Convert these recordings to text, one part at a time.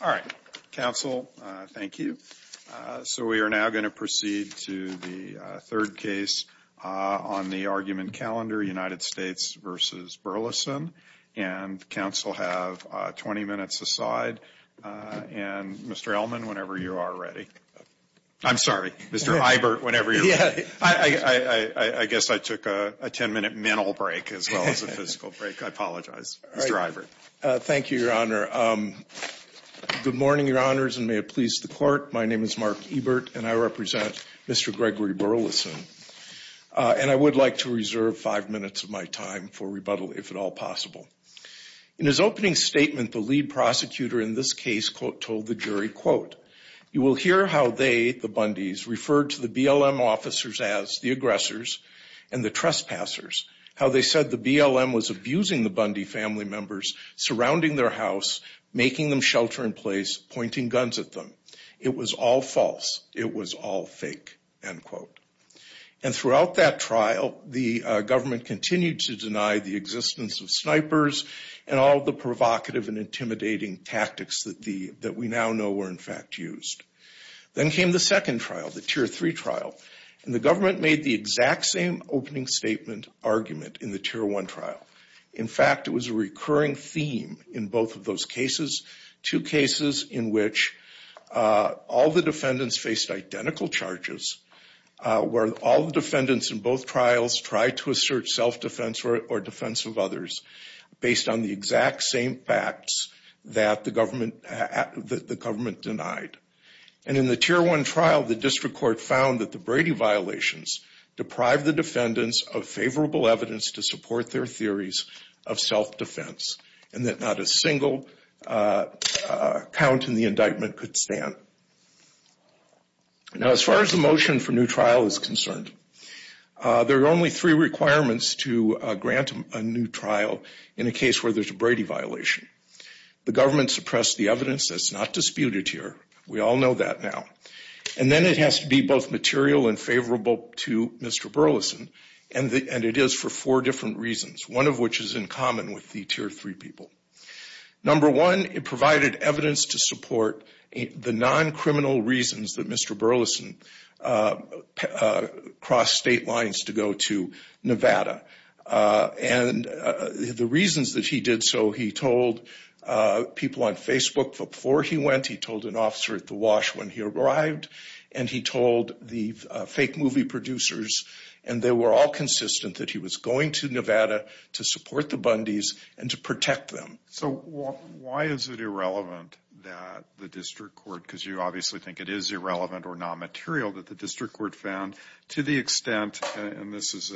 All right, counsel, thank you. So we are now going to proceed to the third case on the argument calendar, United States v. Burleson. And counsel have 20 minutes aside. And, Mr. Ellman, whenever you are ready. I'm sorry, Mr. Ibert, whenever you're ready. I guess I took a 10-minute mental break as well as a physical break. I apologize, Mr. Ibert. Thank you, Your Honor. Good morning, Your Honors, and may it please the Court. My name is Mark Ibert, and I represent Mr. Gregory Burleson. And I would like to reserve five minutes of my time for rebuttal, if at all possible. In his opening statement, the lead prosecutor in this case told the jury, quote, You will hear how they, the Bundys, referred to the BLM officers as the aggressors and the trespassers, how they said the BLM was abusing the Bundy family members surrounding their house, making them shelter in place, pointing guns at them. It was all false. It was all fake, end quote. And throughout that trial, the government continued to deny the existence of snipers and all the provocative and intimidating tactics that we now know were, in fact, used. Then came the second trial, the Tier 3 trial. And the government made the exact same opening statement argument in the Tier 1 trial. In fact, it was a recurring theme in both of those cases, two cases in which all the defendants faced identical charges, where all the defendants in both trials tried to assert self-defense or defense of others based on the exact same facts that the government denied. And in the Tier 1 trial, the district court found that the Brady violations deprived the defendants of favorable evidence to support their theories of self-defense and that not a single count in the indictment could stand. Now, as far as the motion for new trial is concerned, there are only three requirements to grant a new trial in a case where there's a Brady violation. The government suppressed the evidence that's not disputed here. We all know that now. And then it has to be both material and favorable to Mr. Burleson, and it is for four different reasons, one of which is in common with the Tier 3 people. Number one, it provided evidence to support the non-criminal reasons that Mr. Burleson crossed state lines to go to Nevada. And the reasons that he did so, he told people on Facebook before he went, he told an officer at the Wash when he arrived, and he told the fake movie producers, and they were all consistent that he was going to Nevada to support the Bundys and to protect them. So why is it irrelevant that the district court, because you obviously think it is irrelevant or non-material, that the district court found to the extent, and this is,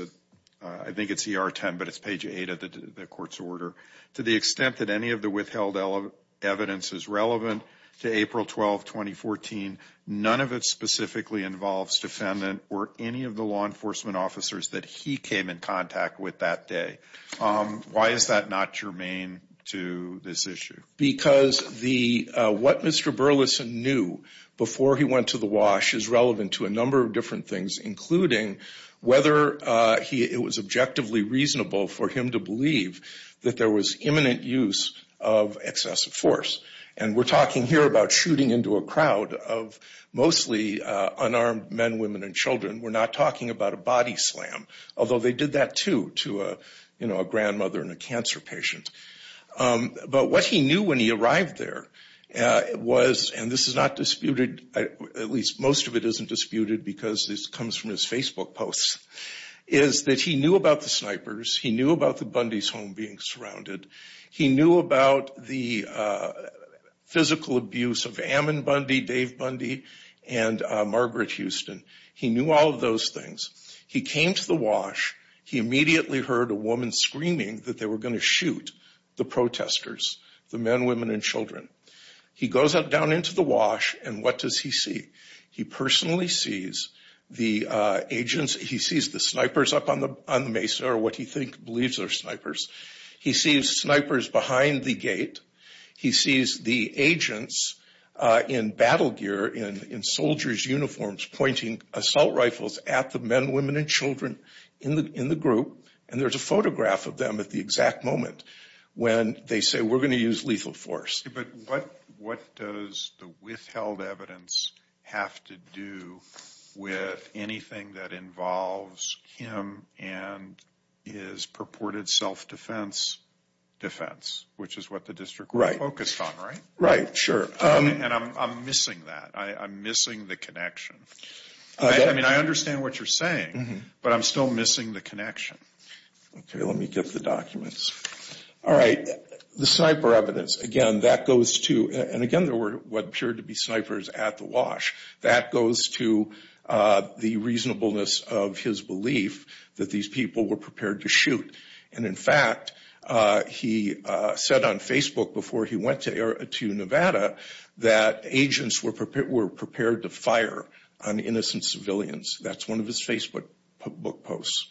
I think it's ER 10, but it's page 8 of the court's order, to the extent that any of the withheld evidence is relevant to April 12, 2014, none of it specifically involves defendant or any of the law enforcement officers that he came in contact with that day. Why is that not germane to this issue? Because what Mr. Burleson knew before he went to the Wash is relevant to a number of different things, including whether it was objectively reasonable for him to believe that there was imminent use of excessive force. And we're talking here about shooting into a crowd of mostly unarmed men, women, and children. We're not talking about a body slam, although they did that too to a grandmother and a cancer patient. But what he knew when he arrived there was, and this is not disputed, at least most of it isn't disputed because this comes from his Facebook posts, is that he knew about the snipers, he knew about the Bundys' home being surrounded, he knew about the physical abuse of Ammon Bundy, Dave Bundy, and Margaret Houston. He knew all of those things. He came to the Wash, he immediately heard a woman screaming that they were going to shoot the protesters, the men, women, and children. He goes down into the Wash and what does he see? He personally sees the agents, he sees the snipers up on the Mesa, or what he believes are snipers. He sees snipers behind the gate. He sees the agents in battle gear, in soldiers' uniforms, pointing assault rifles at the men, women, and children in the group. And there's a photograph of them at the exact moment when they say, we're going to use lethal force. But what does the withheld evidence have to do with anything that involves him and his purported self-defense defense, which is what the district was focused on, right? Right, sure. And I'm missing that. I'm missing the connection. I mean, I understand what you're saying, but I'm still missing the connection. Okay, let me get the documents. All right, the sniper evidence, again, that goes to, and again there were what appeared to be snipers at the Wash, that goes to the reasonableness of his belief that these people were prepared to shoot. And in fact, he said on Facebook before he went to Nevada, that agents were prepared to fire on innocent civilians. That's one of his Facebook book posts.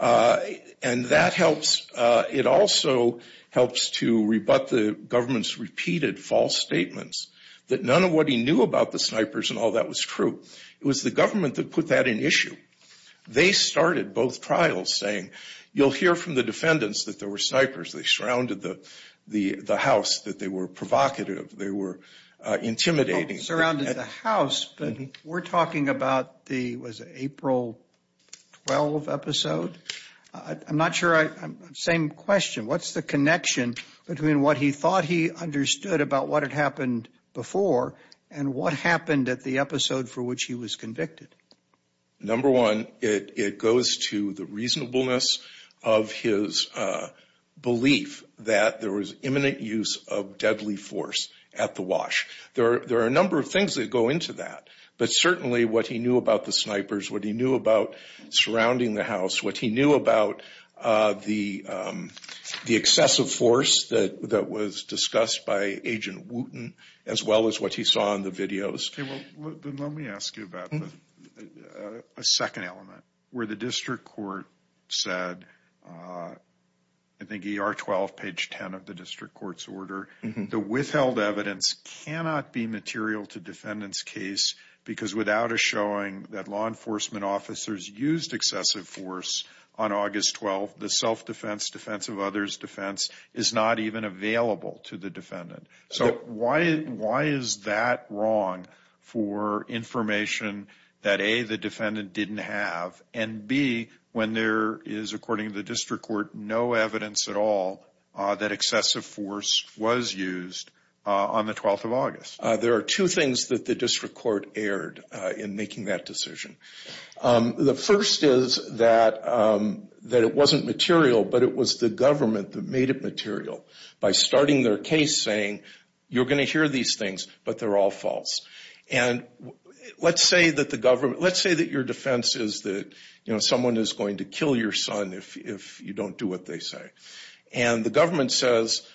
And that helps, it also helps to rebut the government's repeated false statements that none of what he knew about the snipers and all that was true. It was the government that put that in issue. They started both trials saying, you'll hear from the defendants that there were snipers. They surrounded the house, that they were provocative, they were intimidating. Surrounded the house, but we're talking about the, was it April 12 episode? I'm not sure I, same question. What's the connection between what he thought he understood about what had happened before and what happened at the episode for which he was convicted? Number one, it goes to the reasonableness of his belief that there was imminent use of deadly force at the Wash. There are a number of things that go into that, but certainly what he knew about the snipers, what he knew about surrounding the house, what he knew about the excessive force that was discussed by Agent Wooten, as well as what he saw in the videos. Let me ask you about a second element where the district court said, I think ER 12, page 10 of the district court's order, the withheld evidence cannot be material to defendant's case because without a showing that law enforcement officers used excessive force on August 12, the self-defense, defense of others defense is not even available to the defendant. So why is that wrong for information that A, the defendant didn't have, and B, when there is, according to the district court, no evidence at all that excessive force was used on the 12th of August? There are two things that the district court erred in making that decision. The first is that it wasn't material, but it was the government that made it material by starting their case saying, you're going to hear these things, but they're all false. And let's say that your defense is that someone is going to kill your son if you don't do what they say. And the government says,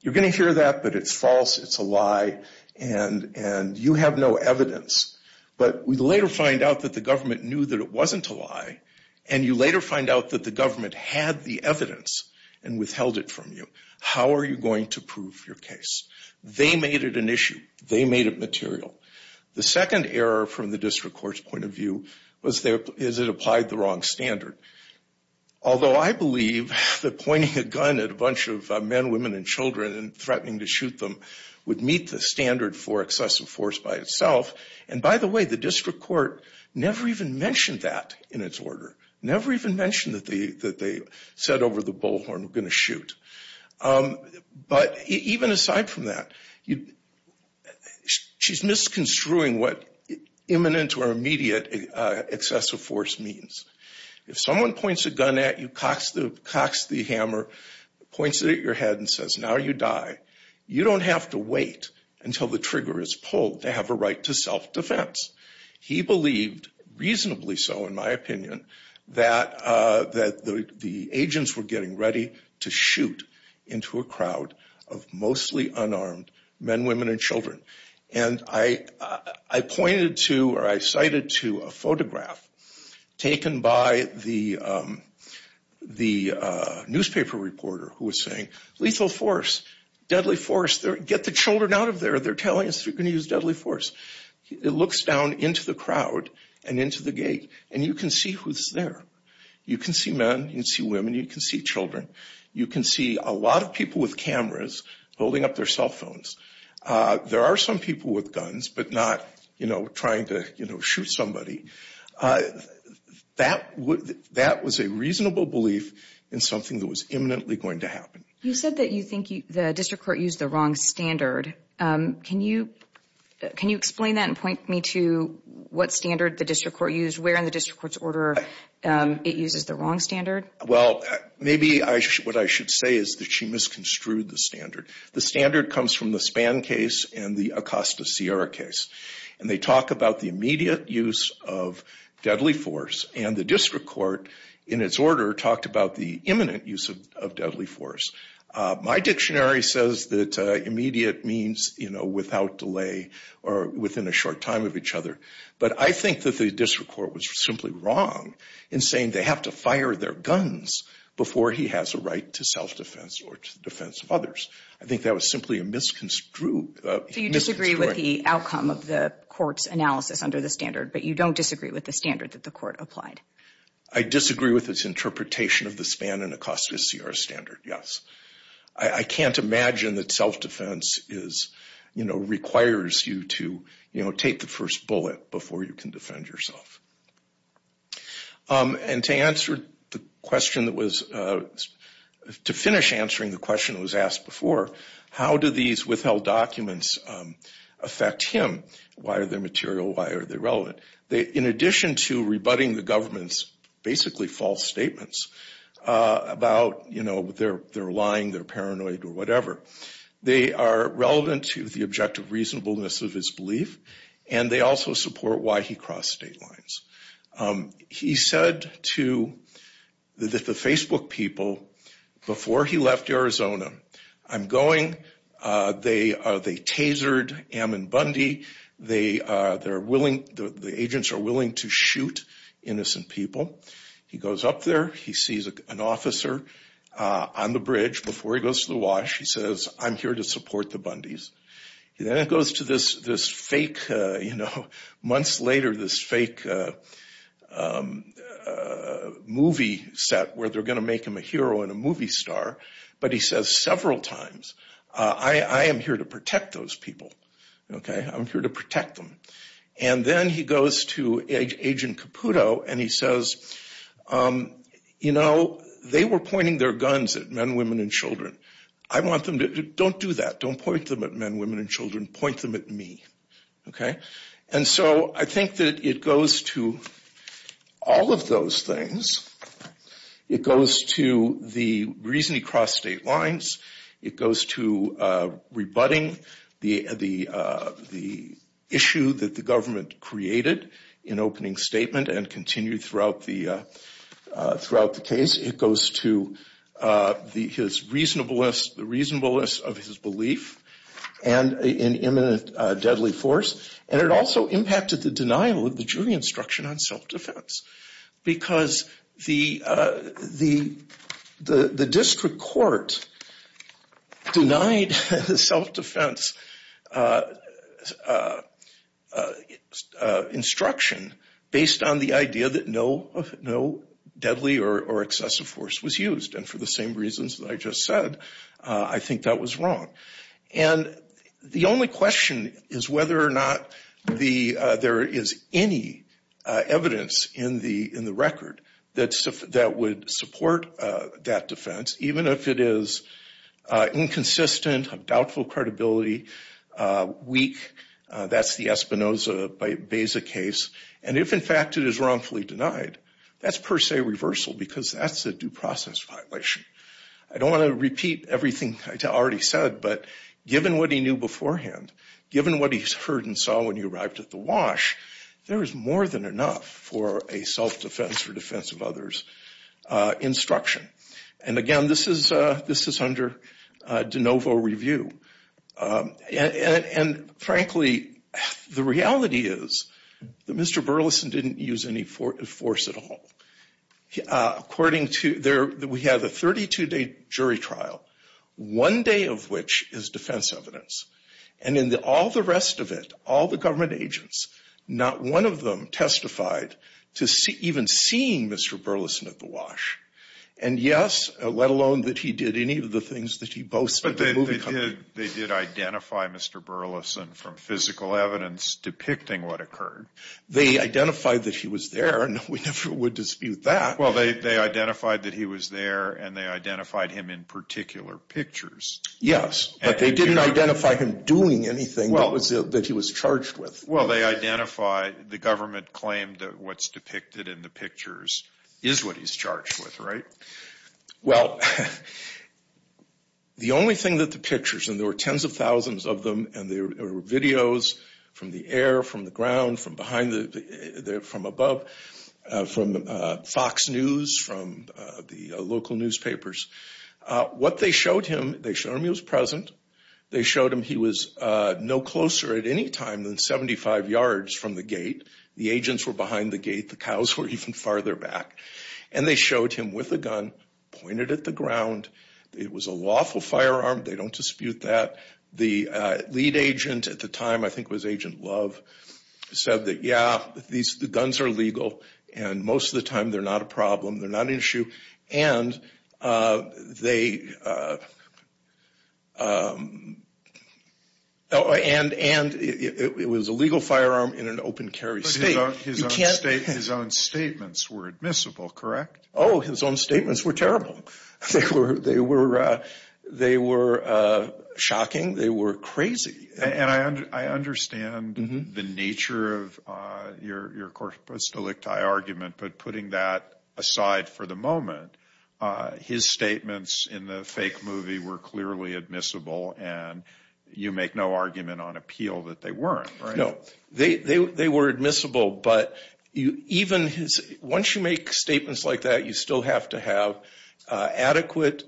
you're going to hear that, but it's false, it's a lie, and you have no evidence. But we later find out that the government knew that it wasn't a lie, and you later find out that the government had the evidence and withheld it from you. How are you going to prove your case? They made it an issue. They made it material. The second error from the district court's point of view is it applied the wrong standard. Although I believe that pointing a gun at a bunch of men, women, and children and threatening to shoot them would meet the standard for excessive force by itself. And by the way, the district court never even mentioned that in its order, never even mentioned that they said over the bullhorn, we're going to shoot. But even aside from that, she's misconstruing what imminent or immediate excessive force means. If someone points a gun at you, cocks the hammer, points it at your head and says, now you die, you don't have to wait until the trigger is pulled to have a right to self-defense. He believed, reasonably so in my opinion, that the agents were getting ready to shoot into a crowd of mostly unarmed men, women, and children. And I pointed to or I cited to a photograph taken by the newspaper reporter who was saying, lethal force, deadly force, get the children out of there. They're telling us we're going to use deadly force. It looks down into the crowd and into the gate and you can see who's there. You can see men. You can see women. You can see children. You can see a lot of people with cameras holding up their cell phones. There are some people with guns but not trying to shoot somebody. That was a reasonable belief in something that was imminently going to happen. You said that you think the district court used the wrong standard. Can you explain that and point me to what standard the district court used, where in the district court's order it uses the wrong standard? Well, maybe what I should say is that she misconstrued the standard. The standard comes from the Spann case and the Acosta-Sierra case, and they talk about the immediate use of deadly force, and the district court in its order talked about the imminent use of deadly force. My dictionary says that immediate means, you know, without delay or within a short time of each other. But I think that the district court was simply wrong in saying they have to fire their guns before he has a right to self-defense or to the defense of others. I think that was simply a misconstrued— So you disagree with the outcome of the court's analysis under the standard, but you don't disagree with the standard that the court applied? I disagree with its interpretation of the Spann and Acosta-Sierra standard, yes. I can't imagine that self-defense is, you know, requires you to, you know, take the first bullet before you can defend yourself. And to answer the question that was— to finish answering the question that was asked before, how do these withheld documents affect him? Why are they material? Why are they relevant? In addition to rebutting the government's basically false statements about, you know, they're lying, they're paranoid, or whatever, they are relevant to the objective reasonableness of his belief, and they also support why he crossed state lines. He said to the Facebook people, before he left Arizona, I'm going, they tasered Ammon Bundy, the agents are willing to shoot innocent people. He goes up there, he sees an officer on the bridge. Before he goes to the wash, he says, I'm here to support the Bundys. Then it goes to this fake, you know, months later, this fake movie set where they're going to make him a hero and a movie star, but he says several times, I am here to protect those people. Okay, I'm here to protect them. And then he goes to Agent Caputo, and he says, you know, they were pointing their guns at men, women, and children. I want them to, don't do that. Don't point them at men, women, and children. Point them at me. Okay? And so I think that it goes to all of those things. It goes to the reason he crossed state lines. It goes to rebutting the issue that the government created in opening statement and continued throughout the case. It goes to his reasonableness, the reasonableness of his belief and an imminent deadly force. And it also impacted the denial of the jury instruction on self-defense because the district court denied the self-defense instruction based on the idea that no deadly or excessive force was used. And for the same reasons that I just said, I think that was wrong. And the only question is whether or not there is any evidence in the record that would support that defense, even if it is inconsistent, of doubtful credibility, weak. That's the Espinoza-Beza case. And if, in fact, it is wrongfully denied, that's per se reversal because that's a due process violation. I don't want to repeat everything I already said, but given what he knew beforehand, given what he's heard and saw when he arrived at the wash, there is more than enough for a self-defense or defense of others instruction. And, again, this is under de novo review. And, frankly, the reality is that Mr. Burleson didn't use any force at all. We have a 32-day jury trial, one day of which is defense evidence. And in all the rest of it, all the government agents, not one of them testified to even seeing Mr. Burleson at the wash. And, yes, let alone that he did any of the things that he boasts about the movie company. But they did identify Mr. Burleson from physical evidence depicting what occurred. They identified that he was there, and we never would dispute that. Well, they identified that he was there, and they identified him in particular pictures. Yes, but they didn't identify him doing anything that he was charged with. Well, they identified, the government claimed that what's depicted in the pictures is what he's charged with, right? Well, the only thing that the pictures, and there were tens of thousands of them, and there were videos from the air, from the ground, from above, from Fox News, from the local newspapers. What they showed him, they showed him he was present. They showed him he was no closer at any time than 75 yards from the gate. The agents were behind the gate. The cows were even farther back. And they showed him with a gun pointed at the ground. It was a lawful firearm. They don't dispute that. The lead agent at the time, I think it was Agent Love, said that, yeah, the guns are legal, and most of the time they're not a problem, they're not an issue. And it was a legal firearm in an open carry state. But his own statements were admissible, correct? Oh, his own statements were terrible. They were shocking. They were crazy. And I understand the nature of your Corpus Delicti argument, but putting that aside for the moment, his statements in the fake movie were clearly admissible, and you make no argument on appeal that they weren't, right? No. They were admissible. Once you make statements like that, you still have to have adequate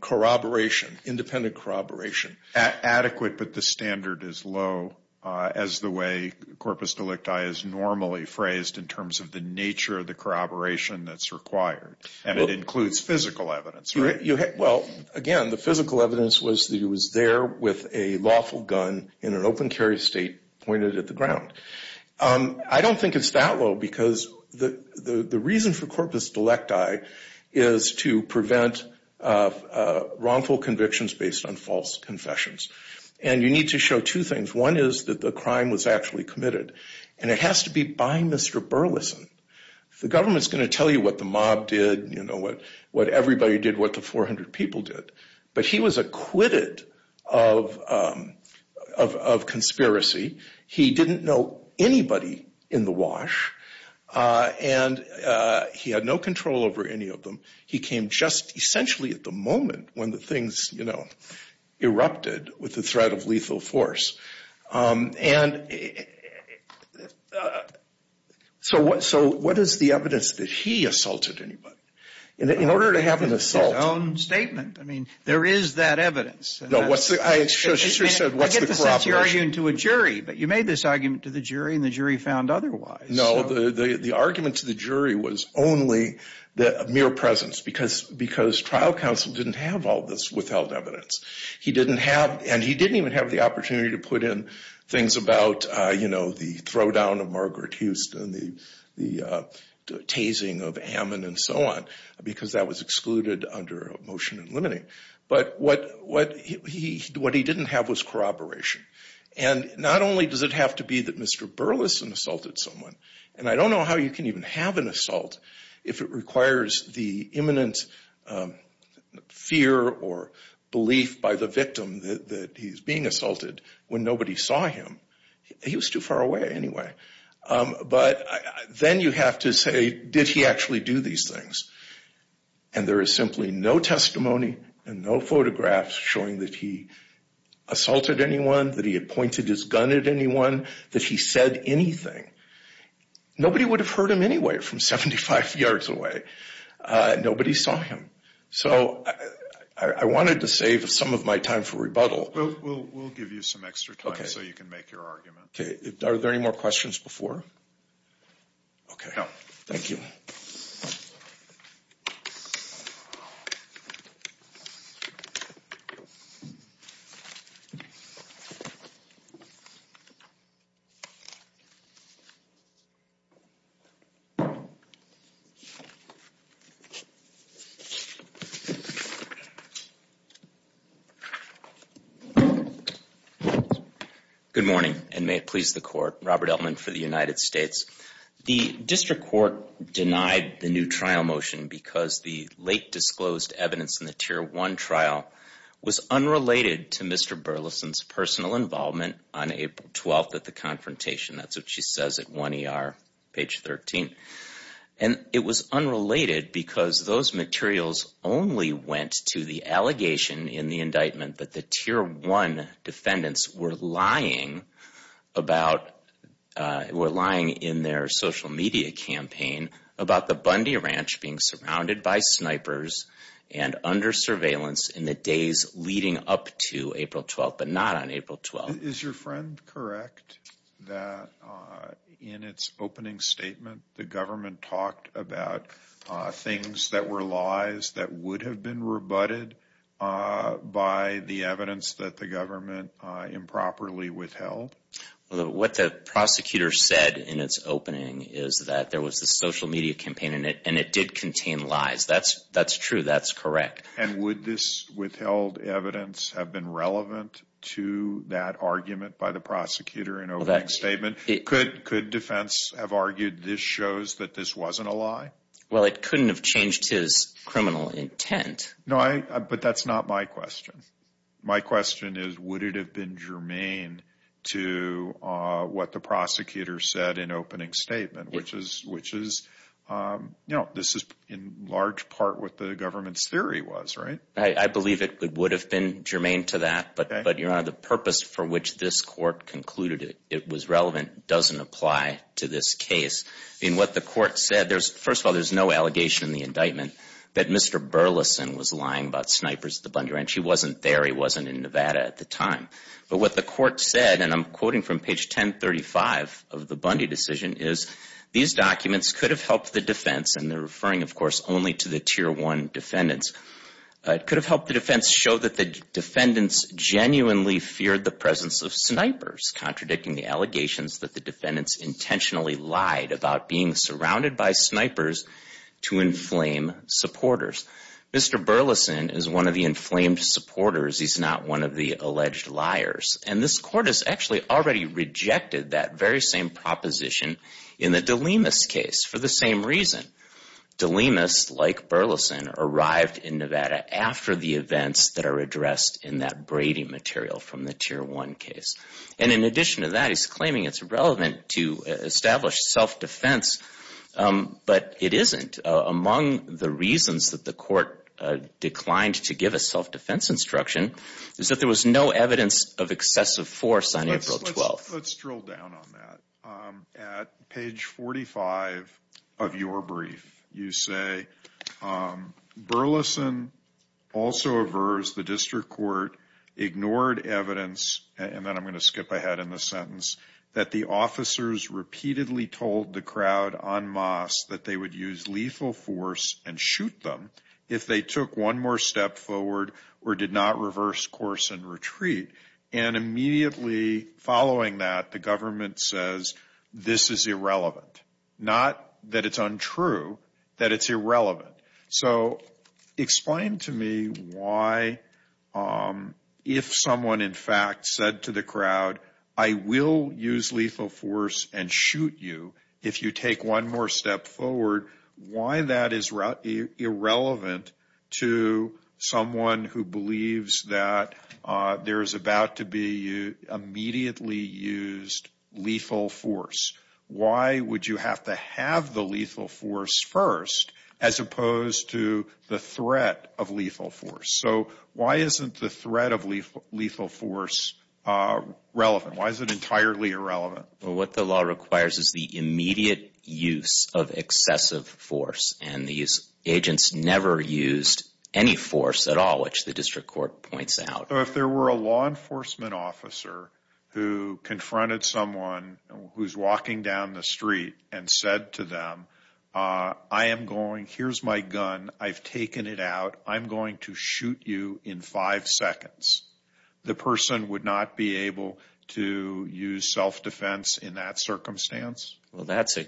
corroboration, independent corroboration. Adequate, but the standard is low, as the way Corpus Delicti is normally phrased, in terms of the nature of the corroboration that's required. And it includes physical evidence, right? Well, again, the physical evidence was that he was there with a lawful gun in an open carry state pointed at the ground. I don't think it's that low because the reason for Corpus Delicti is to prevent wrongful convictions based on false confessions. And you need to show two things. One is that the crime was actually committed, and it has to be by Mr. Burleson. The government's going to tell you what the mob did, you know, what everybody did, what the 400 people did, but he was acquitted of conspiracy. He didn't know anybody in the wash, and he had no control over any of them. He came just essentially at the moment when the things, you know, erupted with the threat of lethal force. And so what is the evidence that he assaulted anybody? In order to have an assault. It's his own statement. I mean, there is that evidence. No, what's the, I just said, what's the corroboration? I get the sense you're arguing to a jury, but you made this argument to the jury, and the jury found otherwise. No, the argument to the jury was only the mere presence because trial counsel didn't have all this withheld evidence. He didn't have, and he didn't even have the opportunity to put in things about, you know, the throwdown of Margaret Houston, the tasing of Ammon and so on because that was excluded under a motion in limiting. But what he didn't have was corroboration. And not only does it have to be that Mr. Burleson assaulted someone, and I don't know how you can even have an assault if it requires the imminent fear or belief by the victim that he's being assaulted when nobody saw him. He was too far away anyway. But then you have to say, did he actually do these things? And there is simply no testimony and no photographs showing that he assaulted anyone, that he had pointed his gun at anyone, that he said anything. Nobody would have heard him anyway from 75 yards away. Nobody saw him. So I wanted to save some of my time for rebuttal. We'll give you some extra time so you can make your argument. Are there any more questions before? No. Thank you. Good morning, and may it please the court. Robert Elman for the United States. The district court denied the new trial motion because the late disclosed evidence in the Tier 1 trial was unrelated to Mr. Burleson's personal involvement on April 12th at the confrontation. That's what she says at 1ER, page 13. And it was unrelated because those materials only went to the allegation in the indictment that the Tier 1 defendants were lying in their social media campaign about the Bundy Ranch being surrounded by snipers and under surveillance in the days leading up to April 12th, but not on April 12th. Is your friend correct that in its opening statement, the government talked about things that were lies that would have been rebutted by the evidence that the government improperly withheld? What the prosecutor said in its opening is that there was a social media campaign, and it did contain lies. That's true. That's correct. And would this withheld evidence have been relevant to that argument by the prosecutor in opening statement? Could defense have argued this shows that this wasn't a lie? Well, it couldn't have changed his criminal intent. No, but that's not my question. My question is, would it have been germane to what the prosecutor said in opening statement, which is, you know, this is in large part what the government's theory was, right? I believe it would have been germane to that. But, Your Honor, the purpose for which this court concluded it was relevant doesn't apply to this case. I mean, what the court said, first of all, there's no allegation in the indictment that Mr. Burleson was lying about snipers at the Bundy Ranch. He wasn't there. He wasn't in Nevada at the time. But what the court said, and I'm quoting from page 1035 of the Bundy decision, is these documents could have helped the defense. And they're referring, of course, only to the Tier 1 defendants. It could have helped the defense show that the defendants genuinely feared the presence of snipers, contradicting the allegations that the defendants intentionally lied about being surrounded by snipers to inflame supporters. Mr. Burleson is one of the inflamed supporters. He's not one of the alleged liars. And this court has actually already rejected that very same proposition in the DeLimas case for the same reason. DeLimas, like Burleson, arrived in Nevada after the events that are addressed in that Brady material from the Tier 1 case. And in addition to that, he's claiming it's relevant to establish self-defense, but it isn't. Among the reasons that the court declined to give a self-defense instruction is that there was no evidence of excessive force on April 12th. Let's drill down on that. At page 45 of your brief, you say, Burleson also aversed the district court, ignored evidence, and then I'm going to skip ahead in the sentence, that the officers repeatedly told the crowd en masse that they would use lethal force and shoot them if they took one more step forward or did not reverse course and retreat. And immediately following that, the government says, this is irrelevant. Not that it's untrue, that it's irrelevant. So explain to me why, if someone in fact said to the crowd, I will use lethal force and shoot you if you take one more step forward, why that is irrelevant to someone who believes that there is about to be immediately used lethal force. Why would you have to have the lethal force first as opposed to the threat of lethal force? So why isn't the threat of lethal force relevant? Why is it entirely irrelevant? Well, what the law requires is the immediate use of excessive force. And these agents never used any force at all, which the district court points out. So if there were a law enforcement officer who confronted someone who's walking down the street and said to them, I am going, here's my gun, I've taken it out, I'm going to shoot you in five seconds, the person would not be able to use self-defense in that circumstance? Well, that's a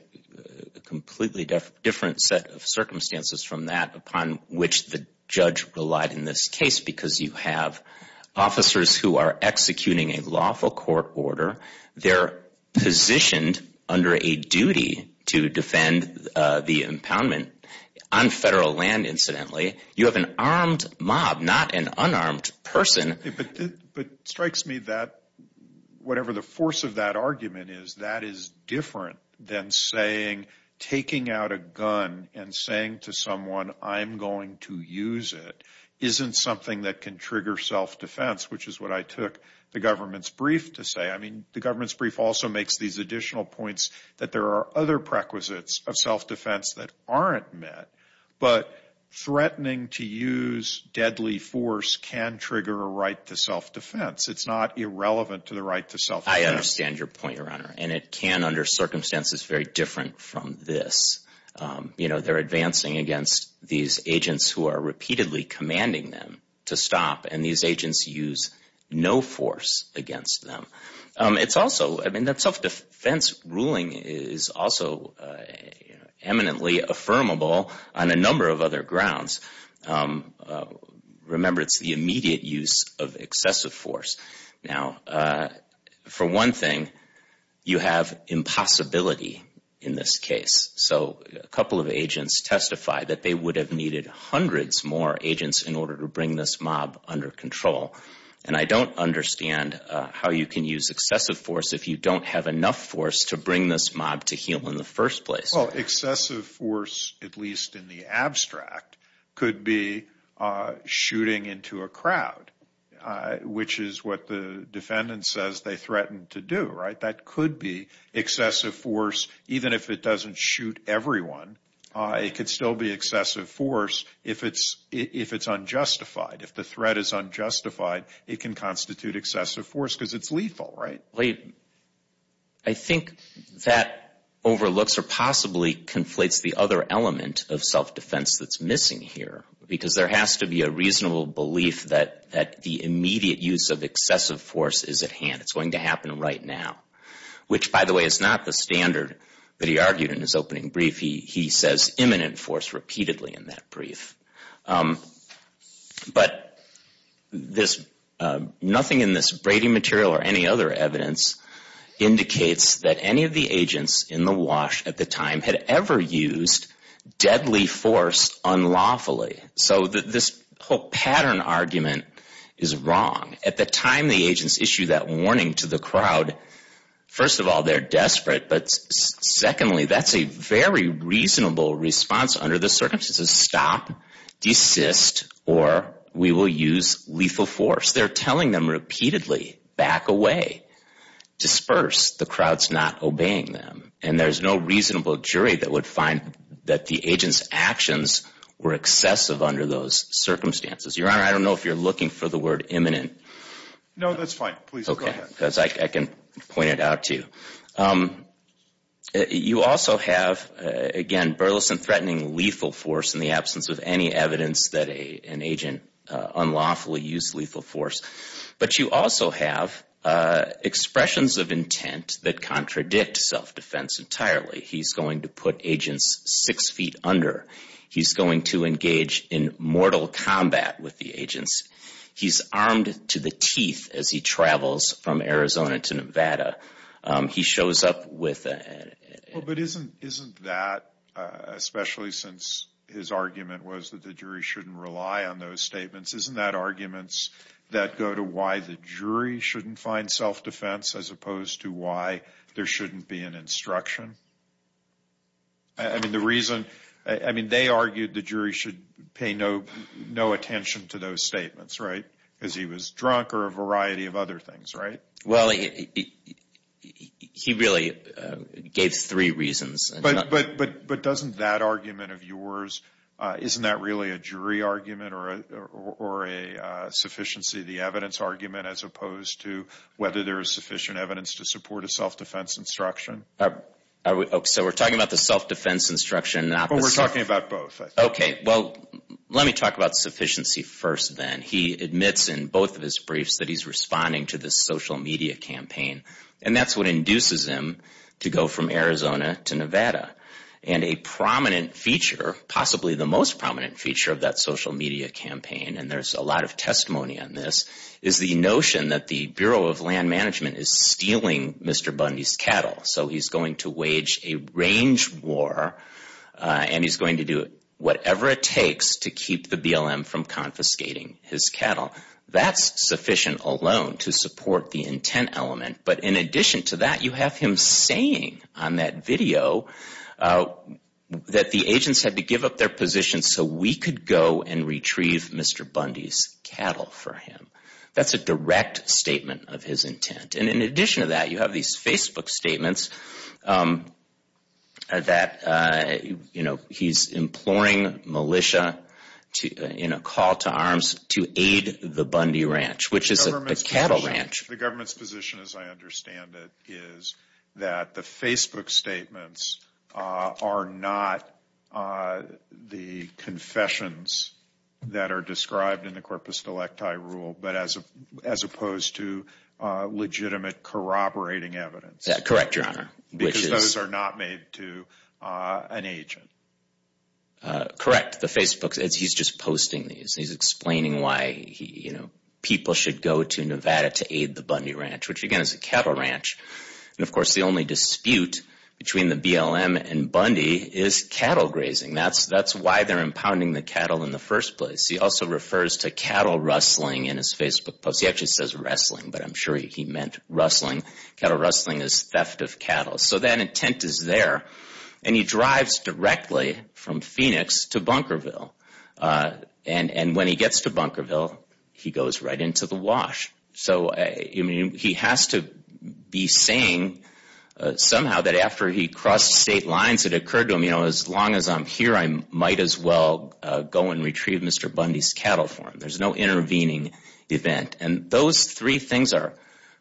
completely different set of circumstances from that upon which the judge relied in this case. Because you have officers who are executing a lawful court order. They're positioned under a duty to defend the impoundment on federal land, incidentally. You have an armed mob, not an unarmed person. But it strikes me that whatever the force of that argument is, that is different than saying taking out a gun and saying to someone I'm going to use it isn't something that can trigger self-defense, which is what I took the government's brief to say. I mean, the government's brief also makes these additional points that there are other prequisites of self-defense that aren't met. But threatening to use deadly force can trigger a right to self-defense. It's not irrelevant to the right to self-defense. I understand your point, Your Honor. And it can under circumstances very different from this. You know, they're advancing against these agents who are repeatedly commanding them to stop. And these agents use no force against them. It's also, I mean, that self-defense ruling is also eminently affirmable on a number of other grounds. Remember, it's the immediate use of excessive force. Now, for one thing, you have impossibility in this case. So a couple of agents testified that they would have needed hundreds more agents in order to bring this mob under control. And I don't understand how you can use excessive force if you don't have enough force to bring this mob to heel in the first place. Well, excessive force, at least in the abstract, could be shooting into a crowd, which is what the defendant says they threatened to do, right? That could be excessive force, even if it doesn't shoot everyone. It could still be excessive force if it's unjustified. If the threat is unjustified, it can constitute excessive force because it's lethal, right? I think that overlooks or possibly conflates the other element of self-defense that's missing here, because there has to be a reasonable belief that the immediate use of excessive force is at hand. It's going to happen right now, which, by the way, is not the standard that he argued in his opening brief. He says imminent force repeatedly in that brief. But nothing in this Brady material or any other evidence indicates that any of the agents in the wash at the time had ever used deadly force unlawfully. So this whole pattern argument is wrong. At the time the agents issued that warning to the crowd, first of all, they're desperate. But secondly, that's a very reasonable response under the circumstances. Stop, desist, or we will use lethal force. They're telling them repeatedly, back away, disperse. The crowd's not obeying them. And there's no reasonable jury that would find that the agent's actions were excessive under those circumstances. Your Honor, I don't know if you're looking for the word imminent. No, that's fine. Please go ahead. Because I can point it out to you. You also have, again, burlesque and threatening lethal force in the absence of any evidence that an agent unlawfully used lethal force. But you also have expressions of intent that contradict self-defense entirely. He's going to put agents six feet under. He's going to engage in mortal combat with the agents. He's armed to the teeth as he travels from Arizona to Nevada. He shows up with a— Well, but isn't that, especially since his argument was that the jury shouldn't rely on those statements, isn't that arguments that go to why the jury shouldn't find self-defense as opposed to why there shouldn't be an instruction? I mean, the reason—I mean, they argued the jury should pay no attention to those statements, right, because he was drunk or a variety of other things, right? Well, he really gave three reasons. But doesn't that argument of yours, isn't that really a jury argument or a sufficiency of the evidence argument as opposed to whether there is sufficient evidence to support a self-defense instruction? So we're talking about the self-defense instruction, not the— Well, we're talking about both, I think. Okay. Well, let me talk about sufficiency first, then. He admits in both of his briefs that he's responding to this social media campaign, and that's what induces him to go from Arizona to Nevada. And a prominent feature, possibly the most prominent feature of that social media campaign, and there's a lot of testimony on this, is the notion that the Bureau of Land Management is stealing Mr. Bundy's cattle. So he's going to wage a range war, and he's going to do whatever it takes to keep the BLM from confiscating his cattle. That's sufficient alone to support the intent element. But in addition to that, you have him saying on that video that the agents had to give up their positions so we could go and retrieve Mr. Bundy's cattle for him. That's a direct statement of his intent. And in addition to that, you have these Facebook statements that, you know, he's imploring militia in a call to arms to aid the Bundy Ranch, which is a cattle ranch. The government's position, as I understand it, is that the Facebook statements are not the confessions that are described in the Corpus Delecti rule, but as opposed to legitimate corroborating evidence. Correct, Your Honor. Because those are not made to an agent. Correct. The Facebook, he's just posting these. He's explaining why people should go to Nevada to aid the Bundy Ranch, which, again, is a cattle ranch. And, of course, the only dispute between the BLM and Bundy is cattle grazing. That's why they're impounding the cattle in the first place. He also refers to cattle rustling in his Facebook post. He actually says wrestling, but I'm sure he meant rustling. Cattle rustling is theft of cattle. So that intent is there. And he drives directly from Phoenix to Bunkerville. And when he gets to Bunkerville, he goes right into the wash. So, I mean, he has to be saying somehow that after he crossed state lines, it occurred to him, you know, as long as I'm here, I might as well go and retrieve Mr. Bundy's cattle for him. There's no intervening event. And those three things are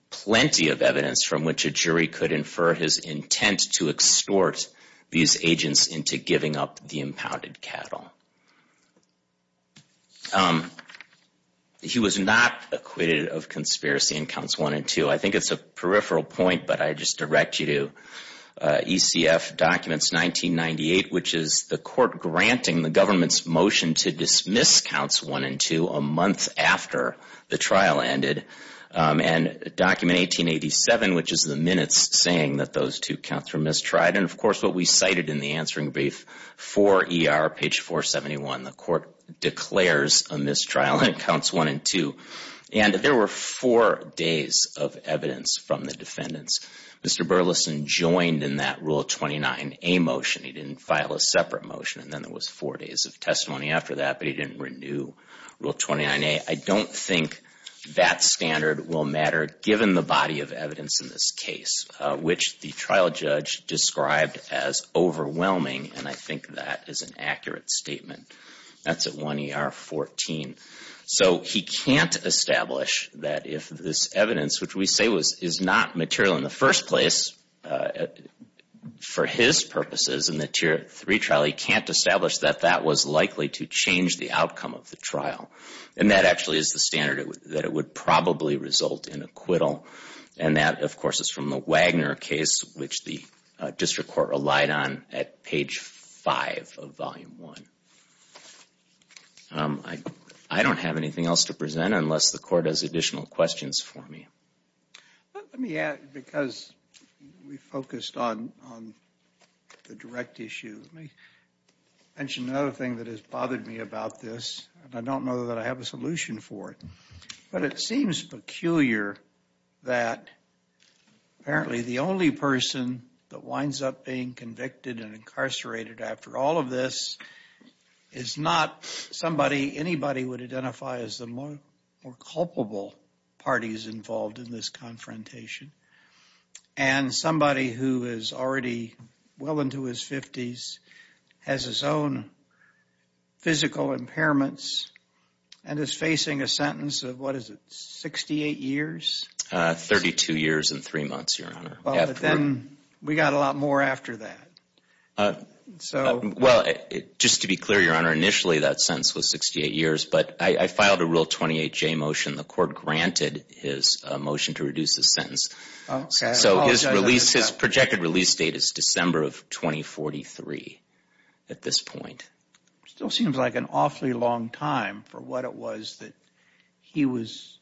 plenty of evidence from which a jury could infer his intent to extort these agents into giving up the impounded cattle. He was not acquitted of conspiracy in Counts 1 and 2. I think it's a peripheral point, but I just direct you to ECF documents 1998, which is the court granting the government's motion to dismiss Counts 1 and 2 a month after the trial ended, and document 1887, which is the minutes saying that those two counts were mistried, and, of course, what we cited in the answering brief for ER, page 471. The court declares a mistrial in Counts 1 and 2. And there were four days of evidence from the defendants. Mr. Burleson joined in that Rule 29a motion. He didn't file a separate motion, and then there was four days of testimony after that, but he didn't renew Rule 29a. I don't think that standard will matter given the body of evidence in this case, which the trial judge described as overwhelming, and I think that is an accurate statement. That's at 1 ER 14. So he can't establish that if this evidence, which we say is not material in the first place, for his purposes in the Tier 3 trial, he can't establish that that was likely to change the outcome of the trial. And that actually is the standard that it would probably result in acquittal. And that, of course, is from the Wagner case, which the district court relied on at page 5 of Volume 1. I don't have anything else to present unless the court has additional questions for me. Let me add, because we focused on the direct issue, let me mention another thing that has bothered me about this, and I don't know that I have a solution for it. But it seems peculiar that apparently the only person that winds up being convicted and incarcerated after all of this is not somebody anybody would identify as the more culpable parties involved in this confrontation, and somebody who is already well into his 50s, has his own physical impairments, and is facing a sentence of, what is it, 68 years? 32 years and three months, Your Honor. But then we got a lot more after that. Well, just to be clear, Your Honor, initially that sentence was 68 years, but I filed a Rule 28J motion. The court granted his motion to reduce the sentence. So his release, his projected release date is December of 2043 at this point. Still seems like an awfully long time for what it was that he was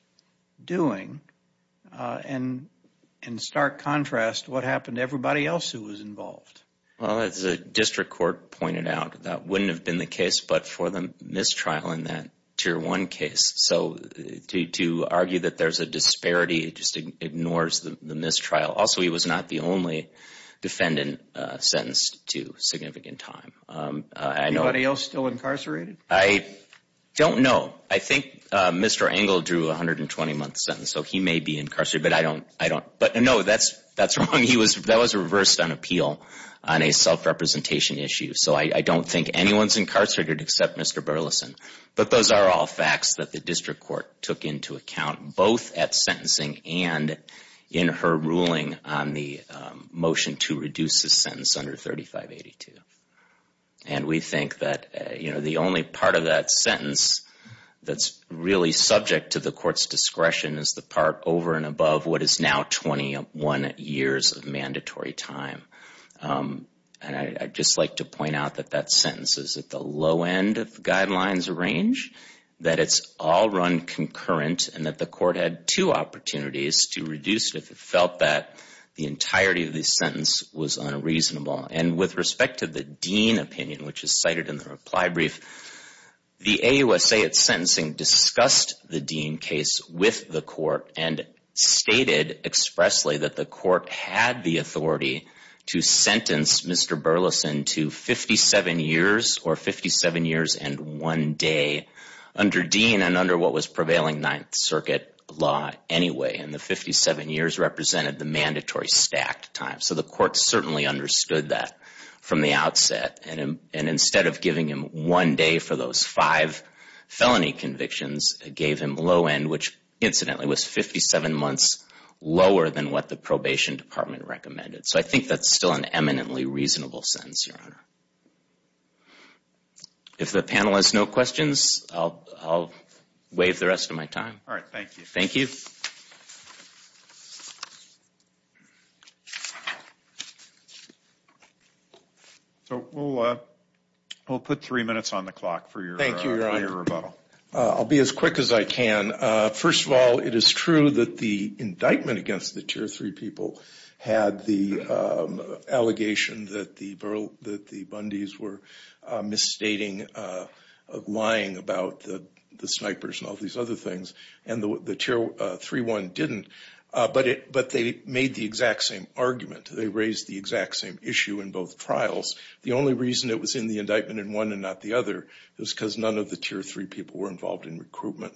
doing. And in stark contrast, what happened to everybody else who was involved? Well, as the district court pointed out, that wouldn't have been the case but for the mistrial in that Tier 1 case. So to argue that there's a disparity just ignores the mistrial. Also, he was not the only defendant sentenced to significant time. Anybody else still incarcerated? I don't know. I think Mr. Engel drew a 120-month sentence, so he may be incarcerated, but I don't know. That's wrong. That was reversed on appeal on a self-representation issue. So I don't think anyone's incarcerated except Mr. Burleson. But those are all facts that the district court took into account both at sentencing and in her ruling on the motion to reduce the sentence under 3582. And we think that the only part of that sentence that's really subject to the court's discretion is the part over and above what is now 21 years of mandatory time. And I'd just like to point out that that sentence is at the low end of the guidelines range, that it's all run concurrent, and that the court had two opportunities to reduce it if it felt that the entirety of the sentence was unreasonable. And with respect to the Dean opinion, which is cited in the reply brief, the AUSA at sentencing discussed the Dean case with the court and stated expressly that the court had the authority to sentence Mr. Burleson to 57 years or 57 years and one day under Dean and under what was prevailing Ninth Circuit law anyway. And the 57 years represented the mandatory stacked time. So the court certainly understood that from the outset. And instead of giving him one day for those five felony convictions, it gave him low end, which incidentally was 57 months lower than what the probation department recommended. So I think that's still an eminently reasonable sentence, Your Honor. If the panel has no questions, I'll waive the rest of my time. All right. Thank you. Thank you. So we'll put three minutes on the clock for your rebuttal. I'll be as quick as I can. First of all, it is true that the indictment against the tier three people had the allegation that the Bundys were misstating, lying about the snipers and all these other things, and the tier three one didn't, but they made the exact same argument. They raised the exact same issue in both trials. The only reason it was in the indictment in one and not the other is because none of the tier three people were involved in recruitment.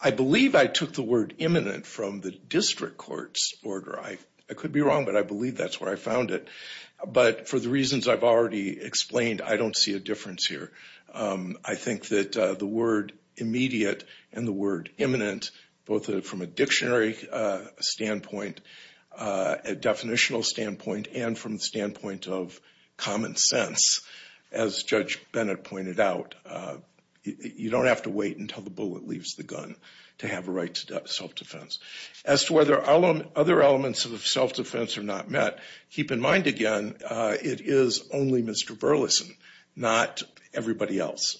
I believe I took the word imminent from the district court's order. I could be wrong, but I believe that's where I found it. But for the reasons I've already explained, I don't see a difference here. I think that the word immediate and the word imminent, both from a dictionary standpoint, a definitional standpoint, and from the standpoint of common sense, as Judge Bennett pointed out, you don't have to wait until the bullet leaves the gun to have a right to self-defense. As to whether other elements of self-defense are not met, keep in mind again, it is only Mr. Burleson, not everybody else.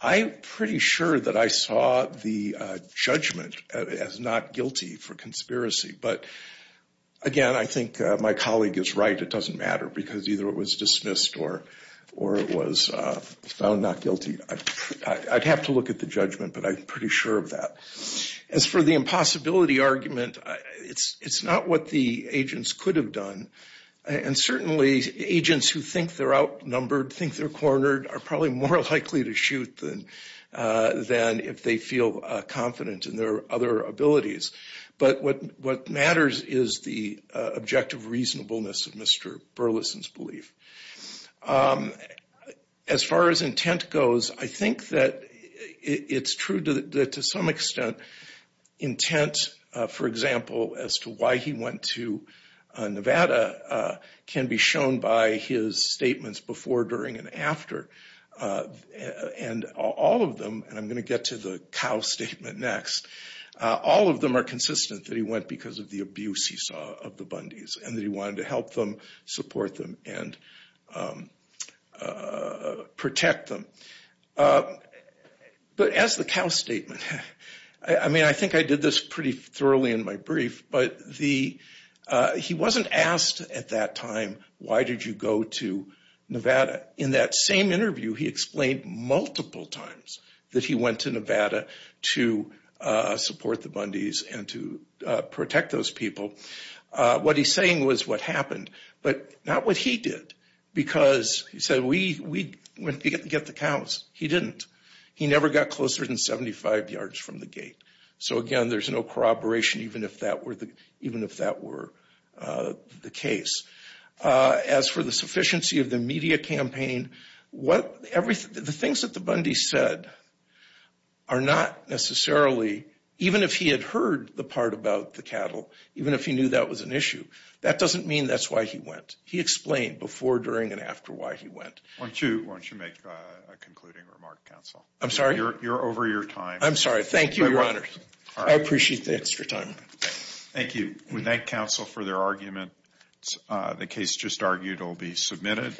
I'm pretty sure that I saw the judgment as not guilty for conspiracy. But again, I think my colleague is right. It doesn't matter because either it was dismissed or it was found not guilty. I'd have to look at the judgment, but I'm pretty sure of that. As for the impossibility argument, it's not what the agents could have done. And certainly agents who think they're outnumbered, think they're cornered, are probably more likely to shoot than if they feel confident in their other abilities. But what matters is the objective reasonableness of Mr. Burleson's belief. As far as intent goes, I think that it's true that to some extent intent, for example, as to why he went to Nevada can be shown by his statements before, during, and after. And all of them, and I'm going to get to the cow statement next, all of them are consistent that he went because of the abuse he saw of the Bundys and that he wanted to help them, support them, and protect them. But as the cow statement, I mean, I think I did this pretty thoroughly in my brief, but he wasn't asked at that time, why did you go to Nevada? In that same interview, he explained multiple times that he went to Nevada to support the Bundys and to protect those people. What he's saying was what happened, but not what he did, because he said we went to get the cows. He didn't. He never got closer than 75 yards from the gate. So again, there's no corroboration even if that were the case. As for the sufficiency of the media campaign, the things that the Bundys said are not necessarily, even if he had heard the part about the cattle, even if he knew that was an issue, that doesn't mean that's why he went. He explained before, during, and after why he went. Why don't you make a concluding remark, counsel? I'm sorry? You're over your time. I'm sorry. Thank you, Your Honor. I appreciate the extra time. Thank you. We thank counsel for their argument. The case just argued will be submitted.